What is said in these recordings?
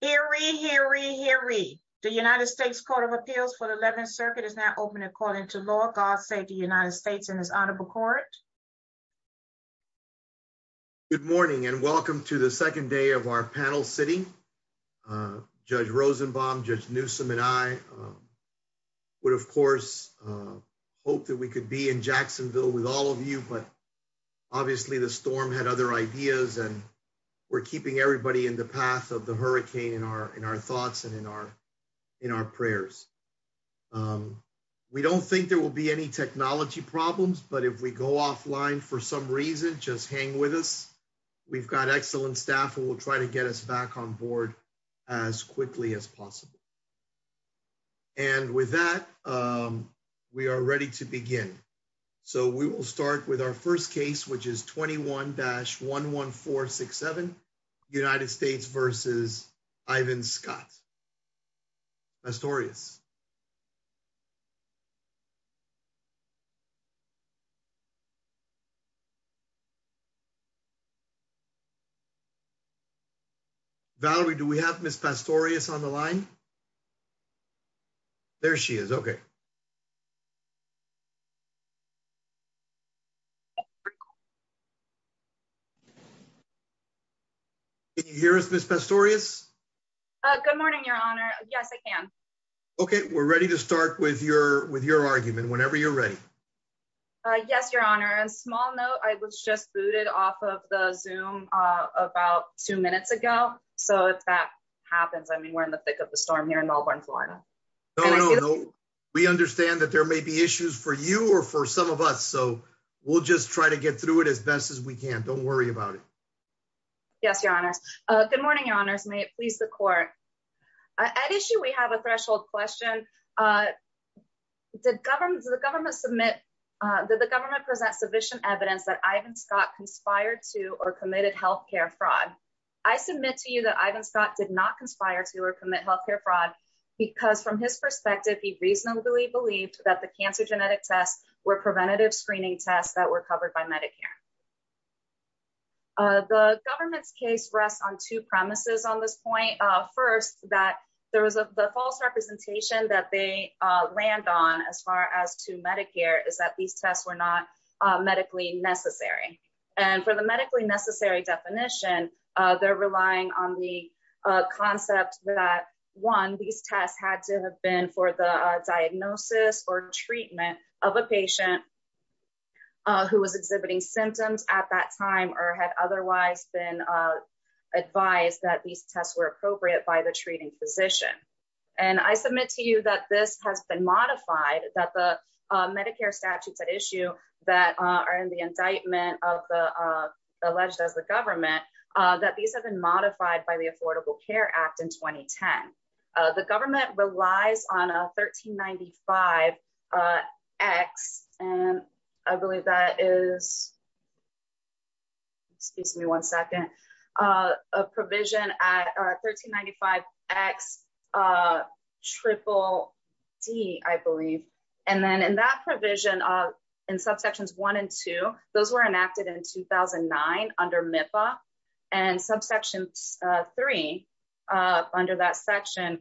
here we hear we hear we the United States Court of Appeals for the 11th Circuit is now open according to law. God save the United States and his Honorable Court. Good morning and welcome to the second day of our panel sitting. Uh Judge Rosenbaum, Judge Newsome and I, um, would, of course, uh, hope that we could be in Jacksonville with all of you. But obviously, the storm had other ideas, and we're keeping everybody in the path of the hurricane in our in our thoughts and in our in our prayers. Um, we don't think there will be any technology problems. But if we go offline for some reason, just hang with us. We've got excellent staff who will try to get us back on board as quickly as possible. And with that, um, we are ready to begin. So we will start with our first case, which is 21-11467 United States versus Ivan Scott. Astorious Valerie. Do we have Miss Pastorius on the line? There she is. Okay. Yeah. Here is Miss Pastorius. Good morning, Your Honor. Yes, I can. Okay, we're ready to start with your with your argument whenever you're ready. Yes, Your Honor. A small note. I was just booted off of the zoom about two minutes ago. So if that happens, I mean, we're in the thick of the storm here in understand that there may be issues for you or for some of us, so we'll just try to get through it as best as we can. Don't worry about it. Yes, Your Honor. Good morning, Your Honor's mate. Please. The court at issue. We have a threshold question. Uh, the government, the government submit that the government presents sufficient evidence that Ivan Scott conspired to or committed health care fraud. I submit to you that Ivan Scott did not conspire to or commit health care fraud because, from his belief that the cancer genetic tests were preventative screening tests that were covered by Medicare. Uh, the government's case rests on two premises on this point. Uh, first that there was a false representation that they land on as far as to Medicare is that these tests were not medically necessary. And for the medically necessary definition, they're relying on the concept that one. These tests had to have been for the diagnosis or treatment of a patient who was exhibiting symptoms at that time or had otherwise been advised that these tests were appropriate by the treating physician. And I submit to you that this has been modified that the Medicare statutes at issue that are in the indictment of the alleged as the government that these have been relies on a 13 95 X. And I believe that is excuse me one second. Uh, provision at 13 95 X. Uh, triple D. I believe. And then in that provision in subsections one and two, those were enacted in 2009 under MIPA and subsections three under that section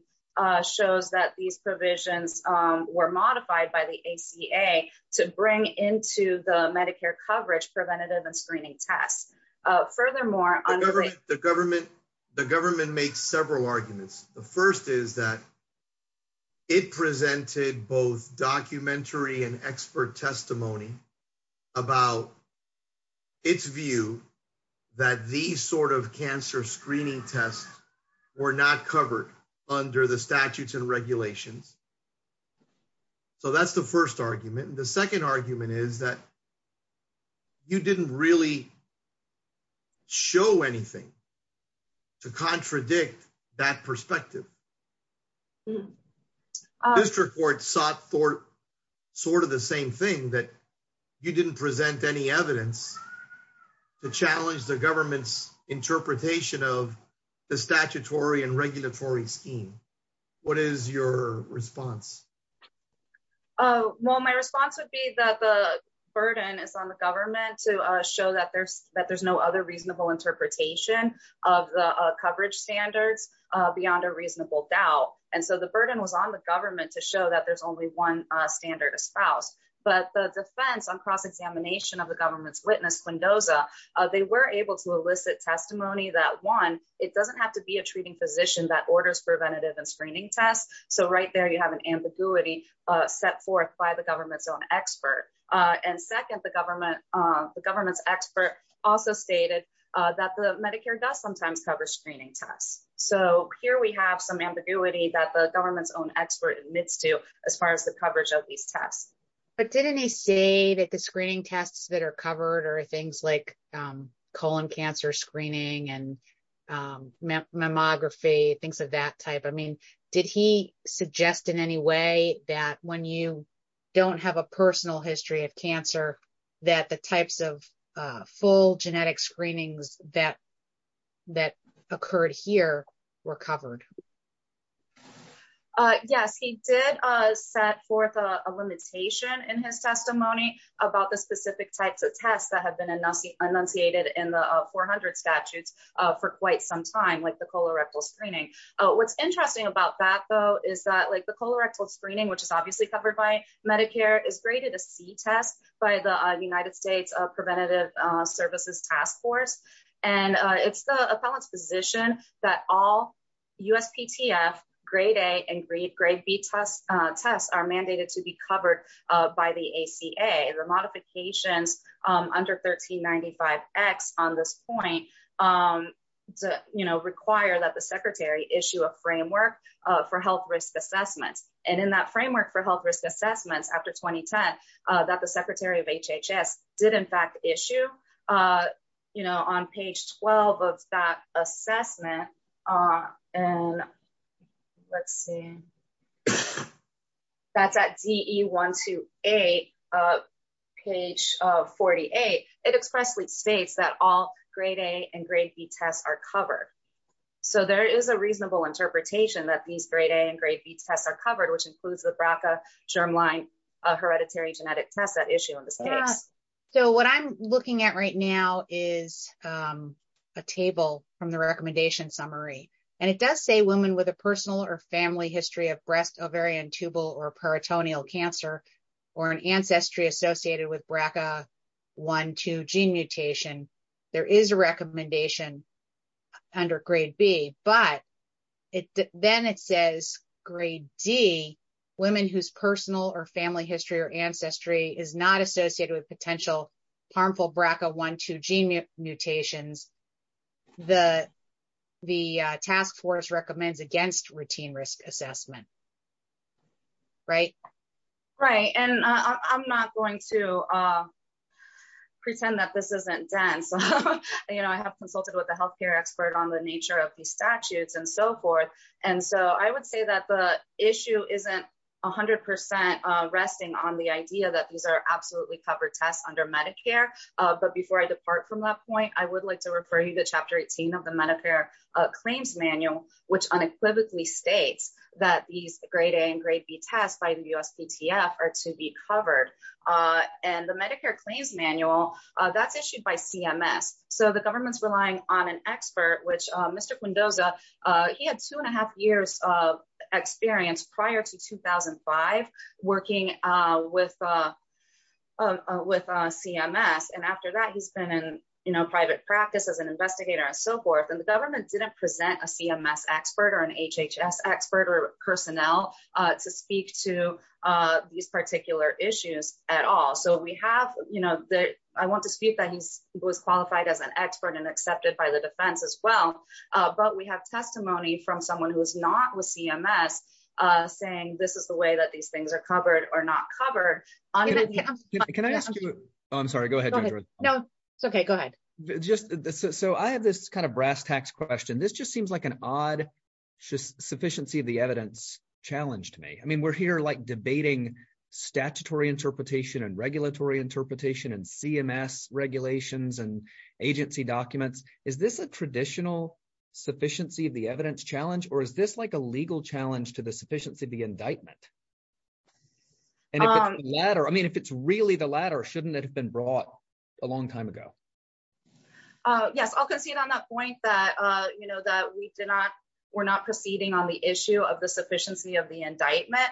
shows that these provisions were modified by the A. C. A. To bring into the Medicare coverage preventative and screening tests. Furthermore, the government, the government makes several arguments. The first is that it presented both documentary and expert testimony about its view that these sort of cancer screening tests were not covered under the statutes and regulations. So that's the first argument. And the second argument is that you didn't really show anything to contradict that perspective. District Court sought for sort of the same thing that you didn't present any evidence to challenge the government's interpretation of the statutory and regulatory scheme. What is your response? Oh, well, my response would be that the burden is on the government to show that there's that there's no other reasonable interpretation of the coverage standards beyond a reasonable doubt. And so the burden was on the government to show that there's only one standard espoused. But the defense on cross examination of the government's witness, Quindosa, they were able to elicit testimony that one, it doesn't have to be a treating physician that orders preventative and screening tests. So right there, you have an ambiguity set forth by the government's own expert. And second, the government, the government's expert also stated that the Medicare does sometimes cover screening tests. So here we have some ambiguity that the government's own expert admits to as far as the coverage of these tests. But didn't he say that the screening tests that are covered are things like colon cancer screening and mammography, things of that type? I mean, did he suggest in any way that when you don't have a personal history of cancer, that the types of full genetic screenings that that occurred here were covered? Yes, he did set forth a limitation in his testimony about the specific types of tests that have been enunciated in the 400 statutes for quite some time, like the colorectal screening. What's interesting about that, though, is that like the colorectal screening, which is obviously covered by Medicare is graded a C test by the United States Preventative Services Task Force. And it's the appellant's position that all USPTF grade A and grade B tests are mandated to be covered by the ACA. The modifications under 1395X on this point require that the secretary issue a framework for health risk assessments. And in that framework for health risk assessments after 2010, that the 12 of that assessment, and let's see, that's at DE 128, page 48, it expressly states that all grade A and grade B tests are covered. So there is a reasonable interpretation that these grade A and grade B tests are covered, which includes the BRCA germline hereditary genetic test that issue in So what I'm looking at right now is a table from the recommendation summary. And it does say women with a personal or family history of breast, ovarian, tubal or peritoneal cancer, or an ancestry associated with BRCA1,2 gene mutation, there is a recommendation under grade B, but then it says grade D, women whose personal or family history or ancestry is not associated with potential harmful BRCA1,2 gene mutations, the task force recommends against routine risk assessment. Right? Right. And I'm not going to pretend that this isn't dense. You know, I have consulted with the healthcare expert on the nature of the statutes and so forth. And so I would say that the issue isn't 100% resting on the idea that these are absolutely covered tests under Medicare. But before I depart from that point, I would like to refer you to chapter 18 of the Medicare claims manual, which unequivocally states that these grade A and grade B tests by the USPTF are to be covered. And the Medicare claims manual that's issued by CMS. So the government's relying on an expert which Mr. Mendoza, he had two and a half years of experience prior to 2005, working with CMS. And after that, he's been in, you know, private practice as an investigator and so forth. And the government didn't present a CMS expert or an HHS expert or personnel to speak to these particular issues at all. So we have, you know, that I want to speak that he was qualified as an expert and accepted by the defense as well. But we have testimony from someone who is not with CMS, saying this is the way that these things are covered or not covered. Can I ask you? I'm sorry. Go ahead. No, it's okay. Go ahead. Just so I have this kind of brass tacks question. This just seems like an odd just sufficiency of the evidence challenged me. I mean, we're here like debating statutory interpretation and regulatory interpretation and CMS regulations and agency documents. Is this a traditional sufficiency of the evidence challenge? Or is this like a legal challenge to the sufficiency of the indictment? And if it's the latter, I mean, if it's really the latter, shouldn't it have been brought a long time ago? Yes, I'll concede on that point that, you know, that we did not, we're not proceeding on the issue of the sufficiency of the indictment.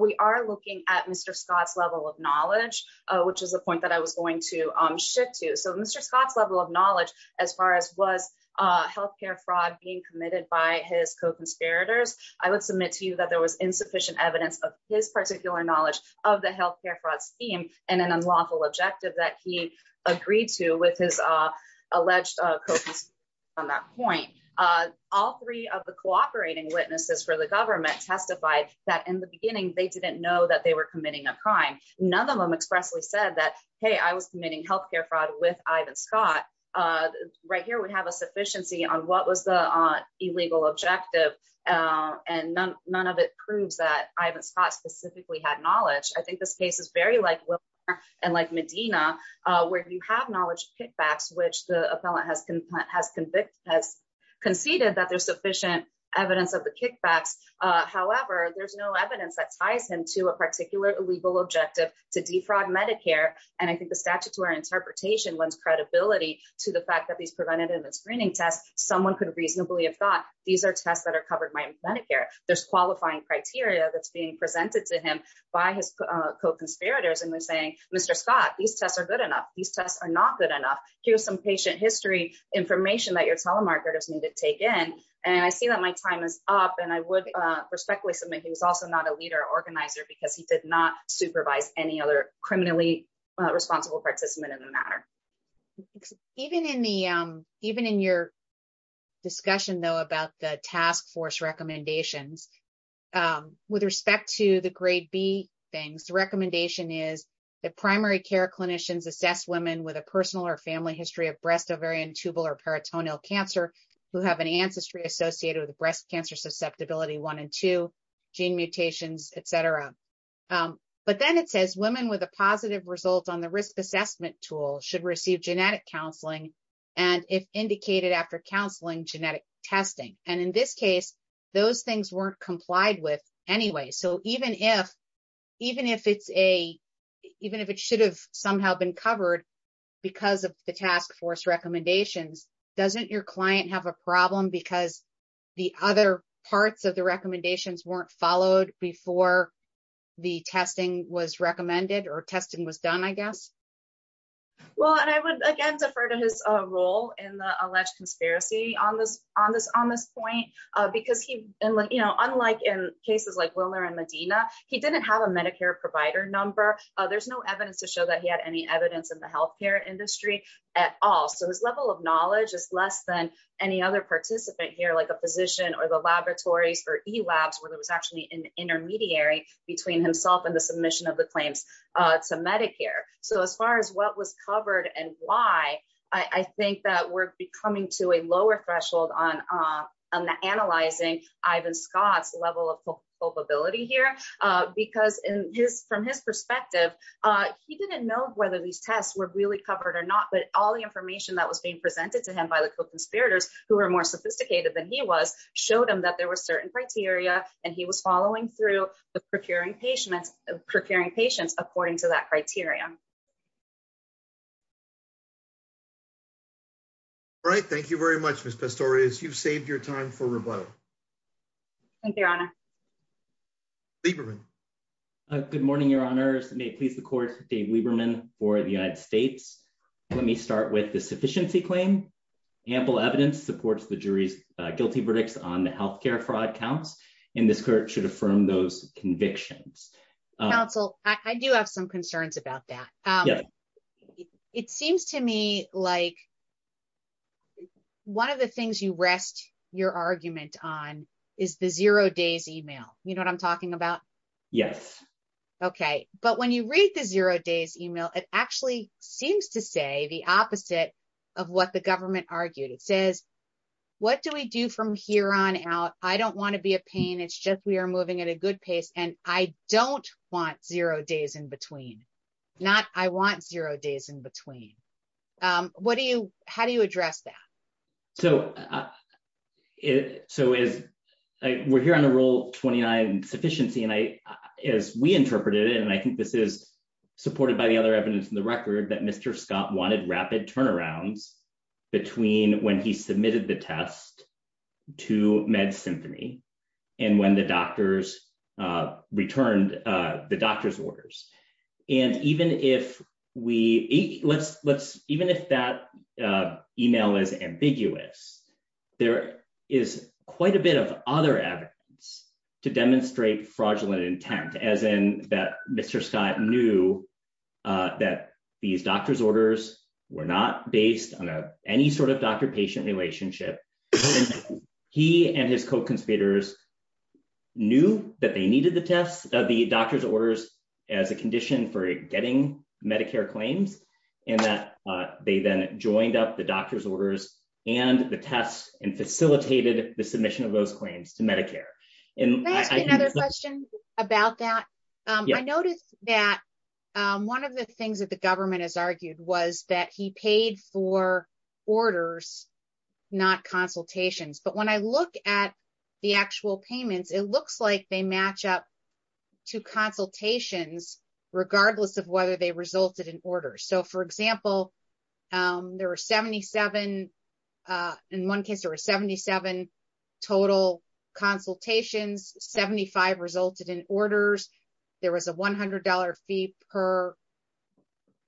We are looking at Mr. Scott's level of knowledge, which is a point that I was going to shift to. So Mr. Scott's level of knowledge, as far as was healthcare fraud being committed by his co conspirators, I would submit to you that there was insufficient evidence of his particular knowledge of the healthcare fraud scheme, and an unlawful objective that he agreed to with his alleged on that point, all three of the cooperating witnesses for the government testified that in the beginning, they didn't know that they were committing a crime. None of them expressly said that, hey, I was committing healthcare fraud with Ivan Scott, right here, we have a sufficiency on what was the illegal objective. And none, none of it proves that Ivan Scott specifically had knowledge. I think this case is very like, and like Medina, where you have knowledge kickbacks, which the appellant has, has convicted, has conceded that there's sufficient evidence of the kickbacks. However, there's no evidence that ties him to a particular illegal objective to defraud Medicare. And I think the statute to our interpretation lends credibility to the fact that these preventative and screening tests, someone could reasonably have thought these are tests that are covered by Medicare, there's qualifying criteria that's being presented to him by his co conspirators. And we're saying, Mr. Scott, these tests are good enough, these tests are not good enough. Here's some patient history information that your telemarketers need to take in. And I see that my time is up. And I would respectfully submit, he was also not a leader organizer, because he did not supervise any other criminally responsible participant in the matter. Even in the, even in your discussion, though, about the task force recommendations, with respect to the grade B things, the recommendation is that primary care clinicians assess women with a personal or family history of breast, ovarian, tubal or peritoneal cancer, who have an ancestry associated with breast cancer susceptibility, one and two, gene mutations, etc. But then it says women with a positive result on the risk assessment tool should receive genetic counseling, and if indicated after counseling, genetic testing, and in this case, those things weren't complied with anyway. So even if, even if it's a, even if it should have somehow been covered, because of the the other parts of the recommendations weren't followed before the testing was recommended or testing was done, I guess. Well, and I would again defer to his role in the alleged conspiracy on this, on this on this point, because he, you know, unlike in cases like Willer and Medina, he didn't have a Medicare provider number, there's no evidence to show that he had any evidence in the healthcare industry at all. So his level of knowledge is less than any other participant here, like a physician or the laboratories or e-labs, where there was actually an intermediary between himself and the submission of the claims to Medicare. So as far as what was covered and why, I think that we're coming to a lower threshold on, on the analyzing Ivan Scott's level of culpability here, because in his, from his perspective, he didn't know whether these tests were really covered or not, but all the tests that were presented to him by the conspirators, who are more sophisticated than he was, showed him that there were certain criteria, and he was following through the procuring patients, procuring patients according to that criterion. Right, thank you very much, Miss Pistorius, you've saved your time for rebuttal. Thank you, Your Honor. Lieberman. Good morning, Your Honors, may it please the court, Dave Lieberman for the United States. Let me start with the sufficiency claim. Ample evidence supports the jury's guilty verdicts on the health care fraud counts, and this court should affirm those convictions. Counsel, I do have some concerns about that. It seems to me like one of the things you rest your argument on is the zero days email, you know what I'm talking about? Yes. Okay, but when you read the zero days email, it actually seems to say the opposite of what the government argued. It says, what do we do from here on out? I don't want to be a pain, it's just we are moving at a good pace, and I don't want zero days in between. Not I want zero days in between. What do you, how do you address that? So, so as we're here on the rule 29 sufficiency, and I, as we interpreted it, and I think this is supported by the other evidence in the record that Mr. Scott wanted rapid turnarounds between when he submitted the test to Med Symphony, and when the doctors returned the doctor's orders. And even if we are ambiguous, there is quite a bit of other evidence to demonstrate fraudulent intent as in that Mr. Scott knew that these doctor's orders were not based on any sort of doctor patient relationship. He and his co conspirators knew that they needed the test of the doctor's orders as a condition for getting Medicare claims, and that they then joined up the doctor's orders, and the test and facilitated the submission of those claims to Medicare. And another question about that. I noticed that one of the things that the government has argued was that he paid for orders, not consultations. But when I look at the actual payments, it looks like they match up to consultations, regardless of whether they resulted in orders. So for example, there were 77. In one case, there were 77 total consultations, 75 resulted in orders, there was a $100 fee per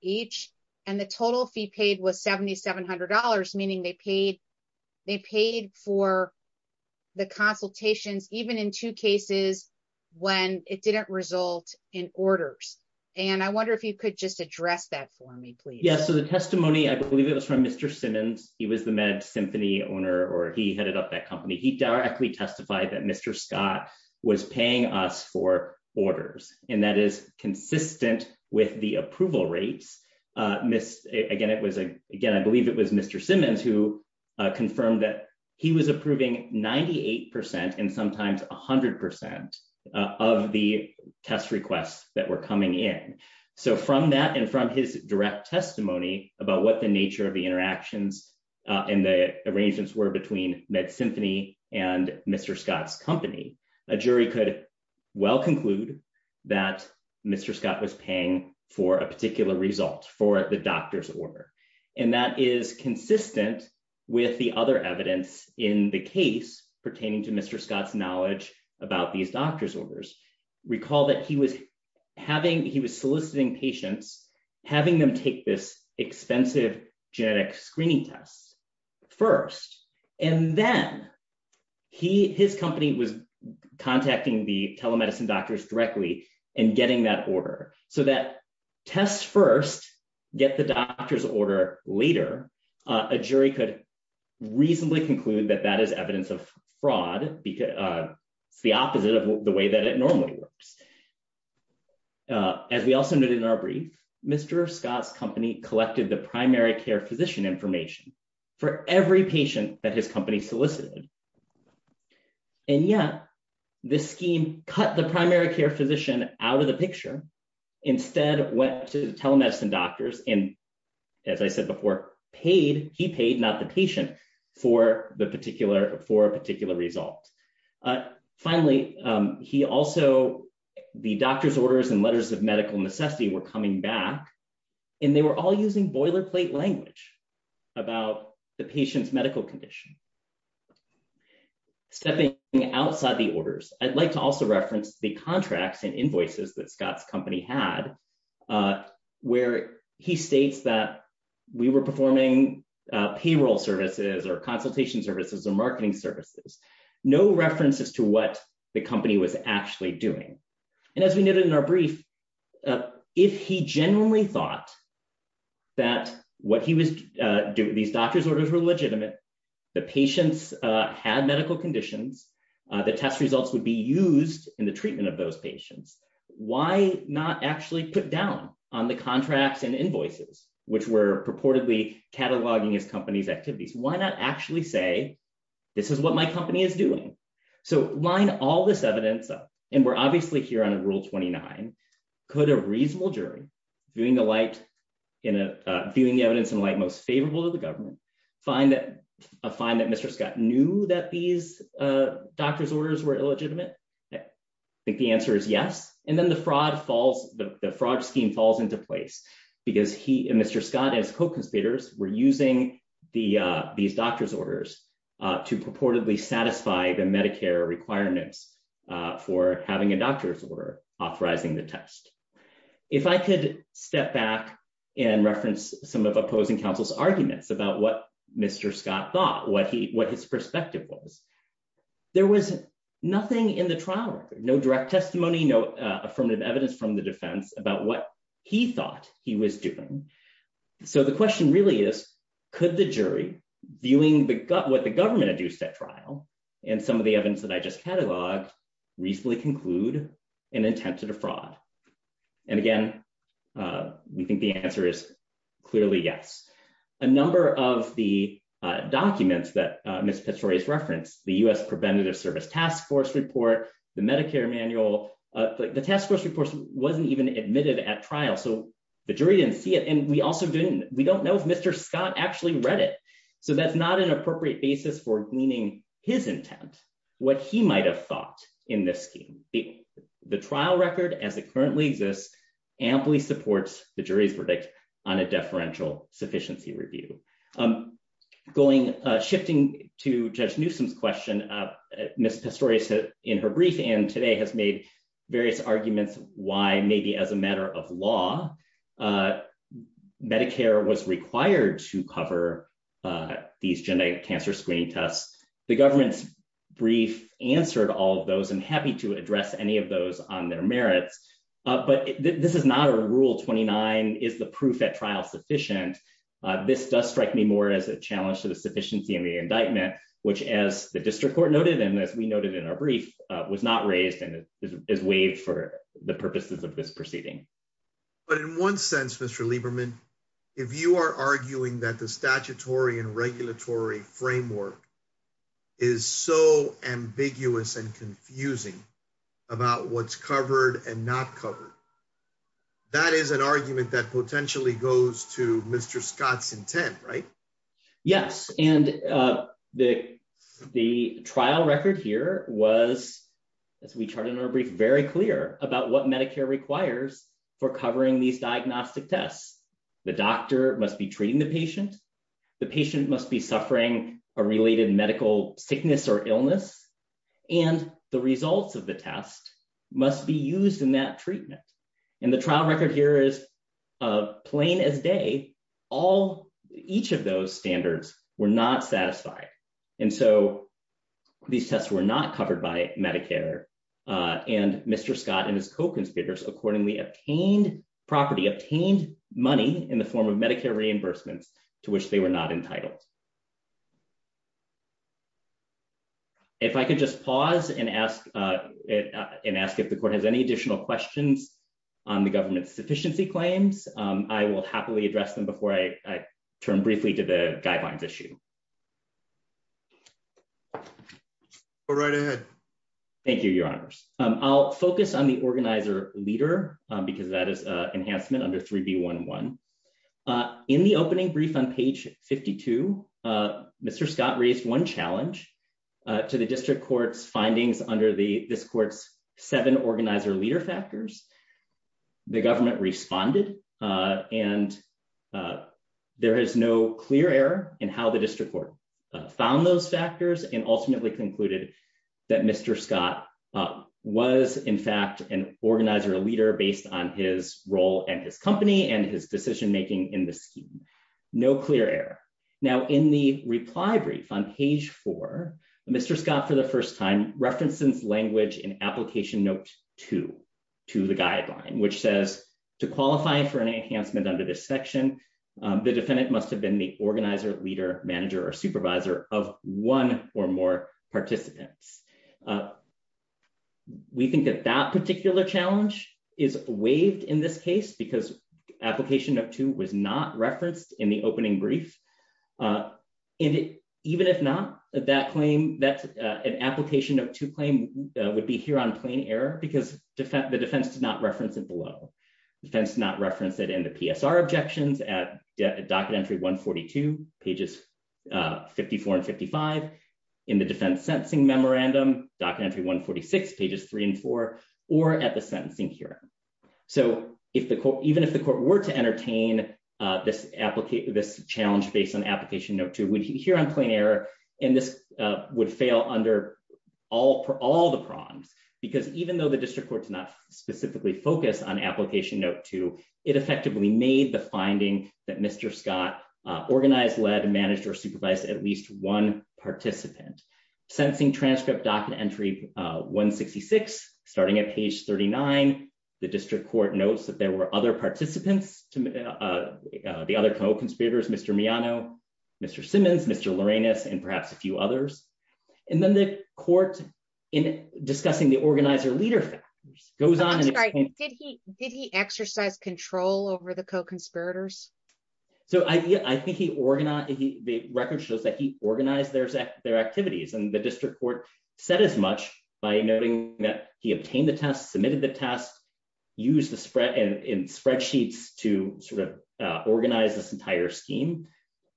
each, and the total fee paid was $7,700, meaning they paid, they paid for the consultations, even in two cases, when it didn't result in orders. And I wonder if you could just address that for me, please. Yes. So the testimony, I believe it was from Mr. Simmons, he was the med symphony owner, or he headed up that company, he directly testified that Mr. Scott was paying us for orders. And that is consistent with the approval rates. Miss again, it was a again, I believe it was Mr. Simmons, who confirmed that he was approving 98%, and sometimes 100% of the test requests that were coming in. So from that, and from his direct testimony about what the nature of the interactions in the arrangements were between med symphony, and Mr. Scott's company, a jury could well conclude that Mr. Scott was paying for a particular result for the doctor's order. And that is consistent with the other evidence in the case pertaining to Mr. Scott's knowledge about these doctors orders. Recall that he was having he was soliciting patients, having them take this expensive genetic screening tests first, and then he his company was contacting the telemedicine doctors directly and getting that order. So that tests first, get the doctor's order later, a jury could reasonably conclude that that is evidence of fraud, because it's the opposite of the way that it normally works. As we also noted in our brief, Mr. Scott's company collected the primary care physician information for every patient that his company solicited. And yet, this scheme cut the primary care physician out of the telemedicine doctors and, as I said before, paid he paid not the patient for the particular for a particular result. Finally, he also the doctor's orders and letters of medical necessity were coming back. And they were all using boilerplate language about the patient's medical condition. Stepping outside the orders, I'd like to also reference the contracts and invoices that Scott's company had, where he states that we were performing payroll services or consultation services or marketing services, no references to what the company was actually doing. And as we noted in our brief, if he genuinely thought that what he was doing, these doctors orders were legitimate, the patients had medical conditions, the test results would be used in the treatment of those patients, why not actually put down on the contracts and invoices, which were purportedly cataloging his company's activities, why not actually say, this is what my company is doing. So line all this evidence up. And we're obviously here on rule 29. Could a reasonable jury viewing the light in a viewing the evidence in light most favorable to the government, find that a find that Mr. Scott knew that these doctors orders were illegitimate? I think the answer is yes. And then the fraud falls, the fraud scheme falls into place. Because he and Mr. Scott as co-conspirators were using the these doctors orders to purportedly satisfy the Medicare requirements for having a doctor's order authorizing the test. If I could step back and reference some of opposing counsel's arguments about what Mr. Scott thought what he what his perspective was, there was nothing in the trial record, no direct testimony, no affirmative evidence from the defense about what he thought he was doing. So the question really is, could the jury viewing the gut what the government had used that trial, and some of the evidence that I just cataloged, recently conclude an attempt to defraud? And again, we think the answer is clearly yes. A number of the documents that Miss Petroius referenced the US Preventative Service Task Force report, the Medicare manual, the task force report wasn't even admitted at trial. So the jury didn't see it. And we also didn't, we don't know if Mr. Scott actually read it. So that's not an appropriate basis for gleaning his currently exists, amply supports the jury's verdict on a deferential sufficiency review. I'm going shifting to Judge Newsom's question. Miss Petroius, in her brief and today has made various arguments why maybe as a matter of law, Medicare was required to cover these genetic cancer screening tests. The government's brief answered all of those and happy to address any of those on their merits. But this is not a rule 29 is the proof that trial sufficient. This does strike me more as a challenge to the sufficiency of the indictment, which as the district court noted, and as we noted in our brief was not raised and is waived for the purposes of this proceeding. But in one sense, Mr. Lieberman, if you are arguing that the statutory and it's covered and not covered, that is an argument that potentially goes to Mr. Scott's intent, right? Yes. And uh, the, the trial record here was, as we charted in our brief, very clear about what Medicare requires for covering these diagnostic tests. The doctor must be treating the patient. The patient must be suffering a related medical sickness or illness. And the results of the test must be used in that treatment. And the trial record here is, uh, plain as day, all each of those standards were not satisfied. And so these tests were not covered by Medicare. Uh, and Mr. Scott and his co-conspirators accordingly obtained property, obtained money in the form of Medicare reimbursements to which they were not entitled. If I could just pause and ask, uh, and ask if the court has any additional questions on the government's sufficiency claims. Um, I will happily address them before I turn briefly to the guidelines issue. All right ahead. Thank you, your honors. Um, I'll focus on the organizer leader because that is a enhancement under 3B11. Uh, in the opening brief on page 52, uh, Mr. Scott raised one challenge, uh, to the district court's findings under the, this court's seven organizer leader factors. The government responded, uh, and, uh, there is no clear error in how the district court found those factors and ultimately concluded that Mr. Scott, uh, was in organizer leader based on his role and his company and his decision-making in the scheme. No clear error. Now in the reply brief on page four, Mr. Scott, for the first time referenced since language in application note two to the guideline, which says to qualify for an enhancement under this section, um, the defendant must have been the organizer leader manager or supervisor of one or participants. Uh, we think that that particular challenge is waived in this case because application of two was not referenced in the opening brief. Uh, and it, even if not that claim that, uh, an application of two claim, uh, would be here on plain error because the defense did not reference it below defense, not reference it in the PSR objections at docket entry one 42 pages, uh, 54 and 55 in the defense sentencing memorandum docket entry, one 46 pages three and four, or at the sentencing here. So if the court, even if the court were to entertain, uh, this applicant, this challenge based on application note two would hit here on plain error. And this, uh, would fail under all, for all the prongs, because even though the district court is not specifically focused on application note two, it effectively made the finding that Mr. Scott, uh, participant sentencing transcript docket entry, uh, one 66 starting at page 39. The district court notes that there were other participants to, uh, uh, the other co-conspirators, Mr. Miano, Mr. Simmons, Mr. Lorenas, and perhaps a few others. And then the court in discussing the organizer leader factors goes on. Did he exercise control over the co-conspirators? So I, I think he organized the record shows that he organized there's their activities and the district court said as much by noting that he obtained the test, submitted the test, use the spread and spreadsheets to sort of, uh, organize this entire scheme.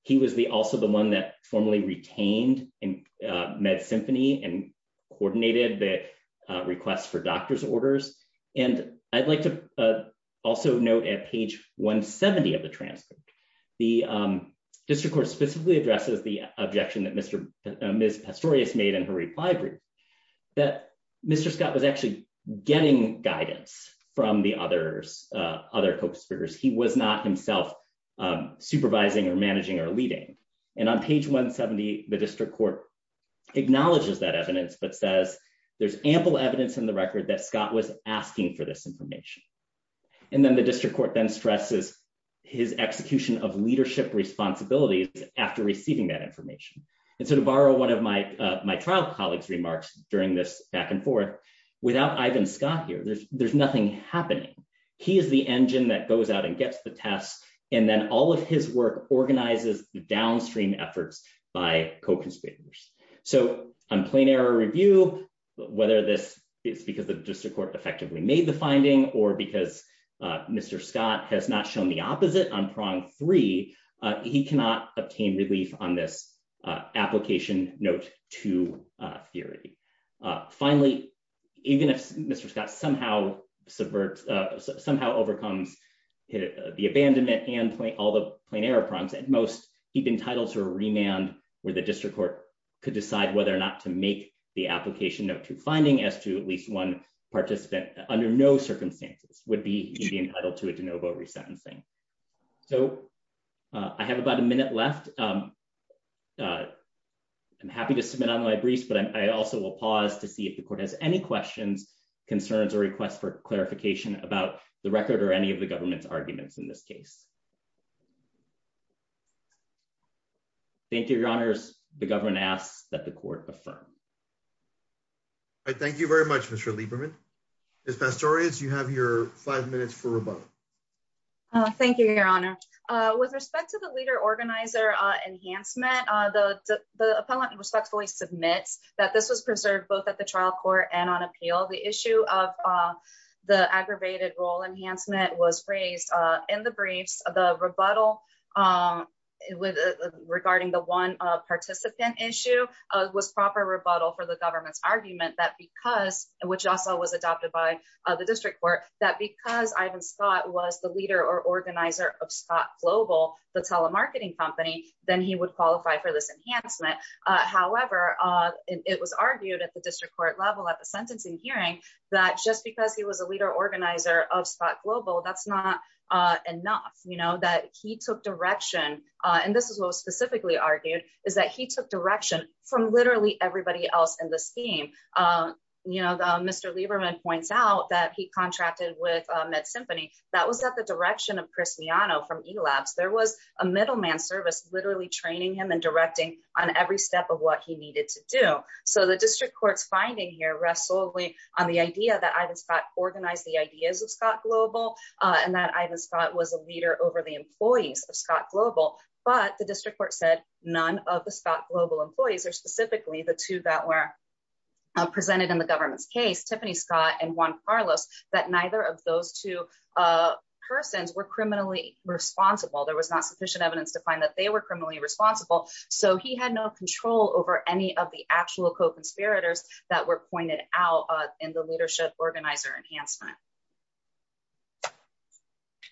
He was the, also the one that formally retained in, uh, med symphony and coordinated the request for doctor's orders. And I'd like to, uh, also note at page one 70 of the transcript, the, um, district court specifically addresses the objection that Mr. Ms. Pistorius made in her reply group that Mr. Scott was actually getting guidance from the others, uh, other co-conspirators. He was not himself, um, supervising or managing or leading. And on page one 70, the district court acknowledges that evidence, but says there's ample evidence in the record that Scott was asking for this and then the district court then stresses his execution of leadership responsibilities after receiving that information. And so to borrow one of my, uh, my trial colleagues remarks during this back and forth without Ivan Scott here, there's, there's nothing happening. He is the engine that goes out and gets the test. And then all of his work organizes the downstream efforts by co-conspirators. So I'm plain error review, whether this is because the district court effectively made the finding or because, uh, Mr. Scott has not shown the opposite on prong three, uh, he cannot obtain relief on this, uh, application note to, uh, theory. Uh, finally, even if Mr. Scott somehow subverts, uh, somehow overcomes the abandonment and all the plain error prompts at most he'd been titled to a remand where the district court could decide whether or not to make the application note to finding as to at participant under no circumstances would be entitled to a de novo resentencing. So, uh, I have about a minute left. Um, uh, I'm happy to submit on my briefs, but I also will pause to see if the court has any questions, concerns, or requests for clarification about the record or any of the government's arguments in this case. Thank you. Your honors. The government asks that the court affirmed. I thank you very much. Mr Lieberman is best stories. You have your five minutes for rebuttal. Thank you, Your Honor. With respect to the leader organizer enhancement, the appellant respectfully submits that this was preserved both at the trial court and on appeal. The issue of, uh, the aggravated role enhancement was proper rebuttal for the government's argument that because which also was adopted by the district court that because Ivan Scott was the leader or organizer of Scott Global, the telemarketing company, then he would qualify for this enhancement. However, it was argued at the district court level at the sentencing hearing that just because he was a leader organizer of Scott Global, that's not enough. You know that he took direction on. This is what was specifically argued is that he took direction from literally everybody else in the scheme. Uh, you know, Mr Lieberman points out that he contracted with Met Symphony. That was that the direction of Cristiano from elapsed. There was a middleman service literally training him and directing on every step of what he needed to do. So the district court's finding here rest solely on the idea that Ivan Scott organized the ideas of Scott Global on that Ivan Scott was a leader over the employees of Scott Global. But the district court said none of the Scott Global employees are specifically the two that were presented in the government's case, Tiffany Scott and Juan Carlos, that neither of those two persons were criminally responsible. There was not sufficient evidence to find that they were criminally responsible, so he had no control over any of the actual co conspirators that were pointed out in the leadership organizer enhancement.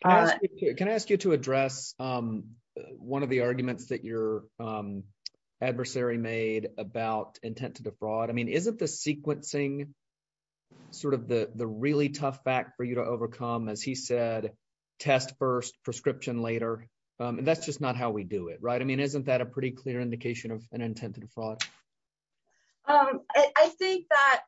Can I ask you to address, um, one of the arguments that your, um, adversary made about intent to defraud? I mean, isn't the sequencing sort of the really tough back for you to overcome? As he said, test first prescription later. Um, and that's just not how we do it, right? I mean, isn't that a pretty clear indication of an intent to defraud? Um, I think that,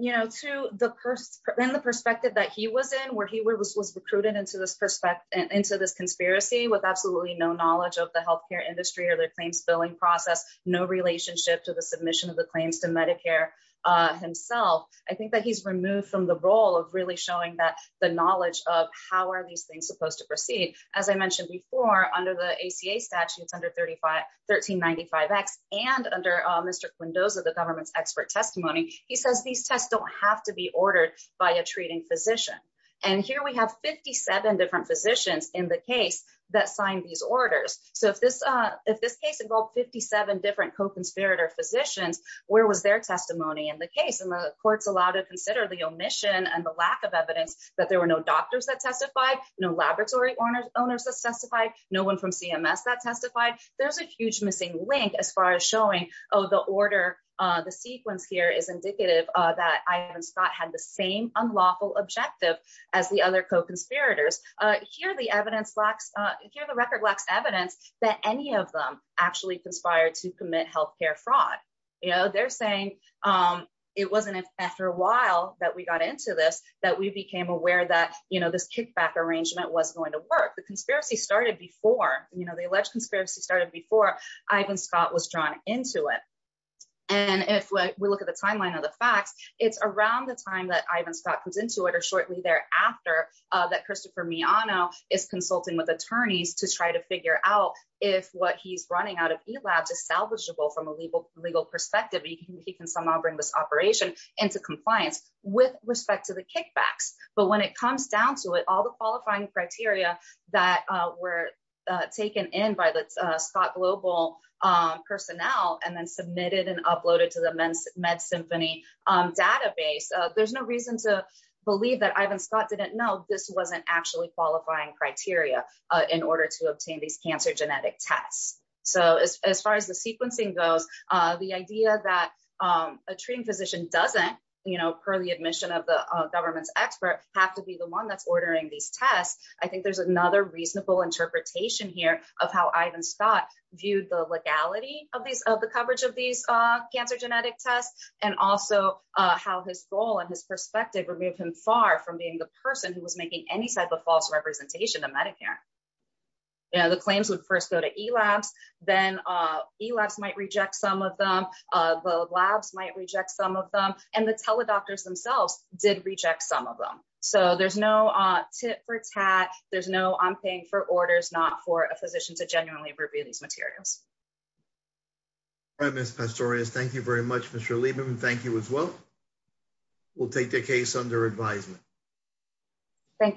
you know, to the purse and the perspective of the perspective that he was in where he was was recruited into this perspective into this conspiracy with absolutely no knowledge of the health care industry or their claims billing process. No relationship to the submission of the claims to Medicare himself. I think that he's removed from the role of really showing that the knowledge of how are these things supposed to proceed? As I mentioned before, under the A. C. A. Statutes under 35 13 95 X and under Mr. Windows of the government's expert testimony, he says these tests don't have to be ordered by a treating physician. And here we have 57 different physicians in the case that signed these orders. So if this if this case involved 57 different co conspirator physicians, where was their testimony in the case? And the court's allowed to consider the omission and the lack of evidence that there were no doctors that testified no laboratory owners owners that testified no one from CMS that testified. There's a huge missing link as far as showing. Oh, the order the sequence here is indicative that I haven't Scott had the same unlawful objective as the other co conspirators here. The evidence lacks here. The record lacks evidence that any of them actually conspired to commit health care fraud. You know, they're saying, um, it wasn't after a while that we got into this, that we became aware that, you know, this kickback arrangement was going to work. The conspiracy started before, you know, the alleged conspiracy started before Ivan Scott was drawn into it. And if we look at the timeline of the facts, it's around the time that Ivan Scott comes into it or shortly thereafter that Christopher Miano is consulting with attorneys to try to figure out if what he's running out of the labs is salvageable from a legal legal perspective. He can somehow bring this operation into compliance with respect to the kickbacks. But when it comes down to it, all the qualifying criteria that were taken in by the Scott global, um, personnel and then submitted and uploaded to the med symphony database, there's no reason to believe that Ivan Scott didn't know this wasn't actually qualifying criteria in order to obtain these cancer genetic tests. So as far as the sequencing goes, the idea that, um, a treating physician doesn't, you know, per the admission of the government's expert have to be the one that's ordering these tests. I think there's another reasonable interpretation here of how Ivan Scott viewed the legality of these of the coverage of these cancer genetic tests and also how his role and his perspective removed him far from being the person who was making any type of false representation of Medicare. You know, the claims would first go to E. Labs. Then, uh, E. Labs might reject some of them. The labs might reject some of them, and the teledoctors themselves did reject some of them. So there's no tip for tat. There's no I'm paying for orders, not for a physician to genuinely review these materials. I miss pastorious. Thank you very much, Mr Lieberman. Thank you as well. We'll take the case under advisement. Thank you.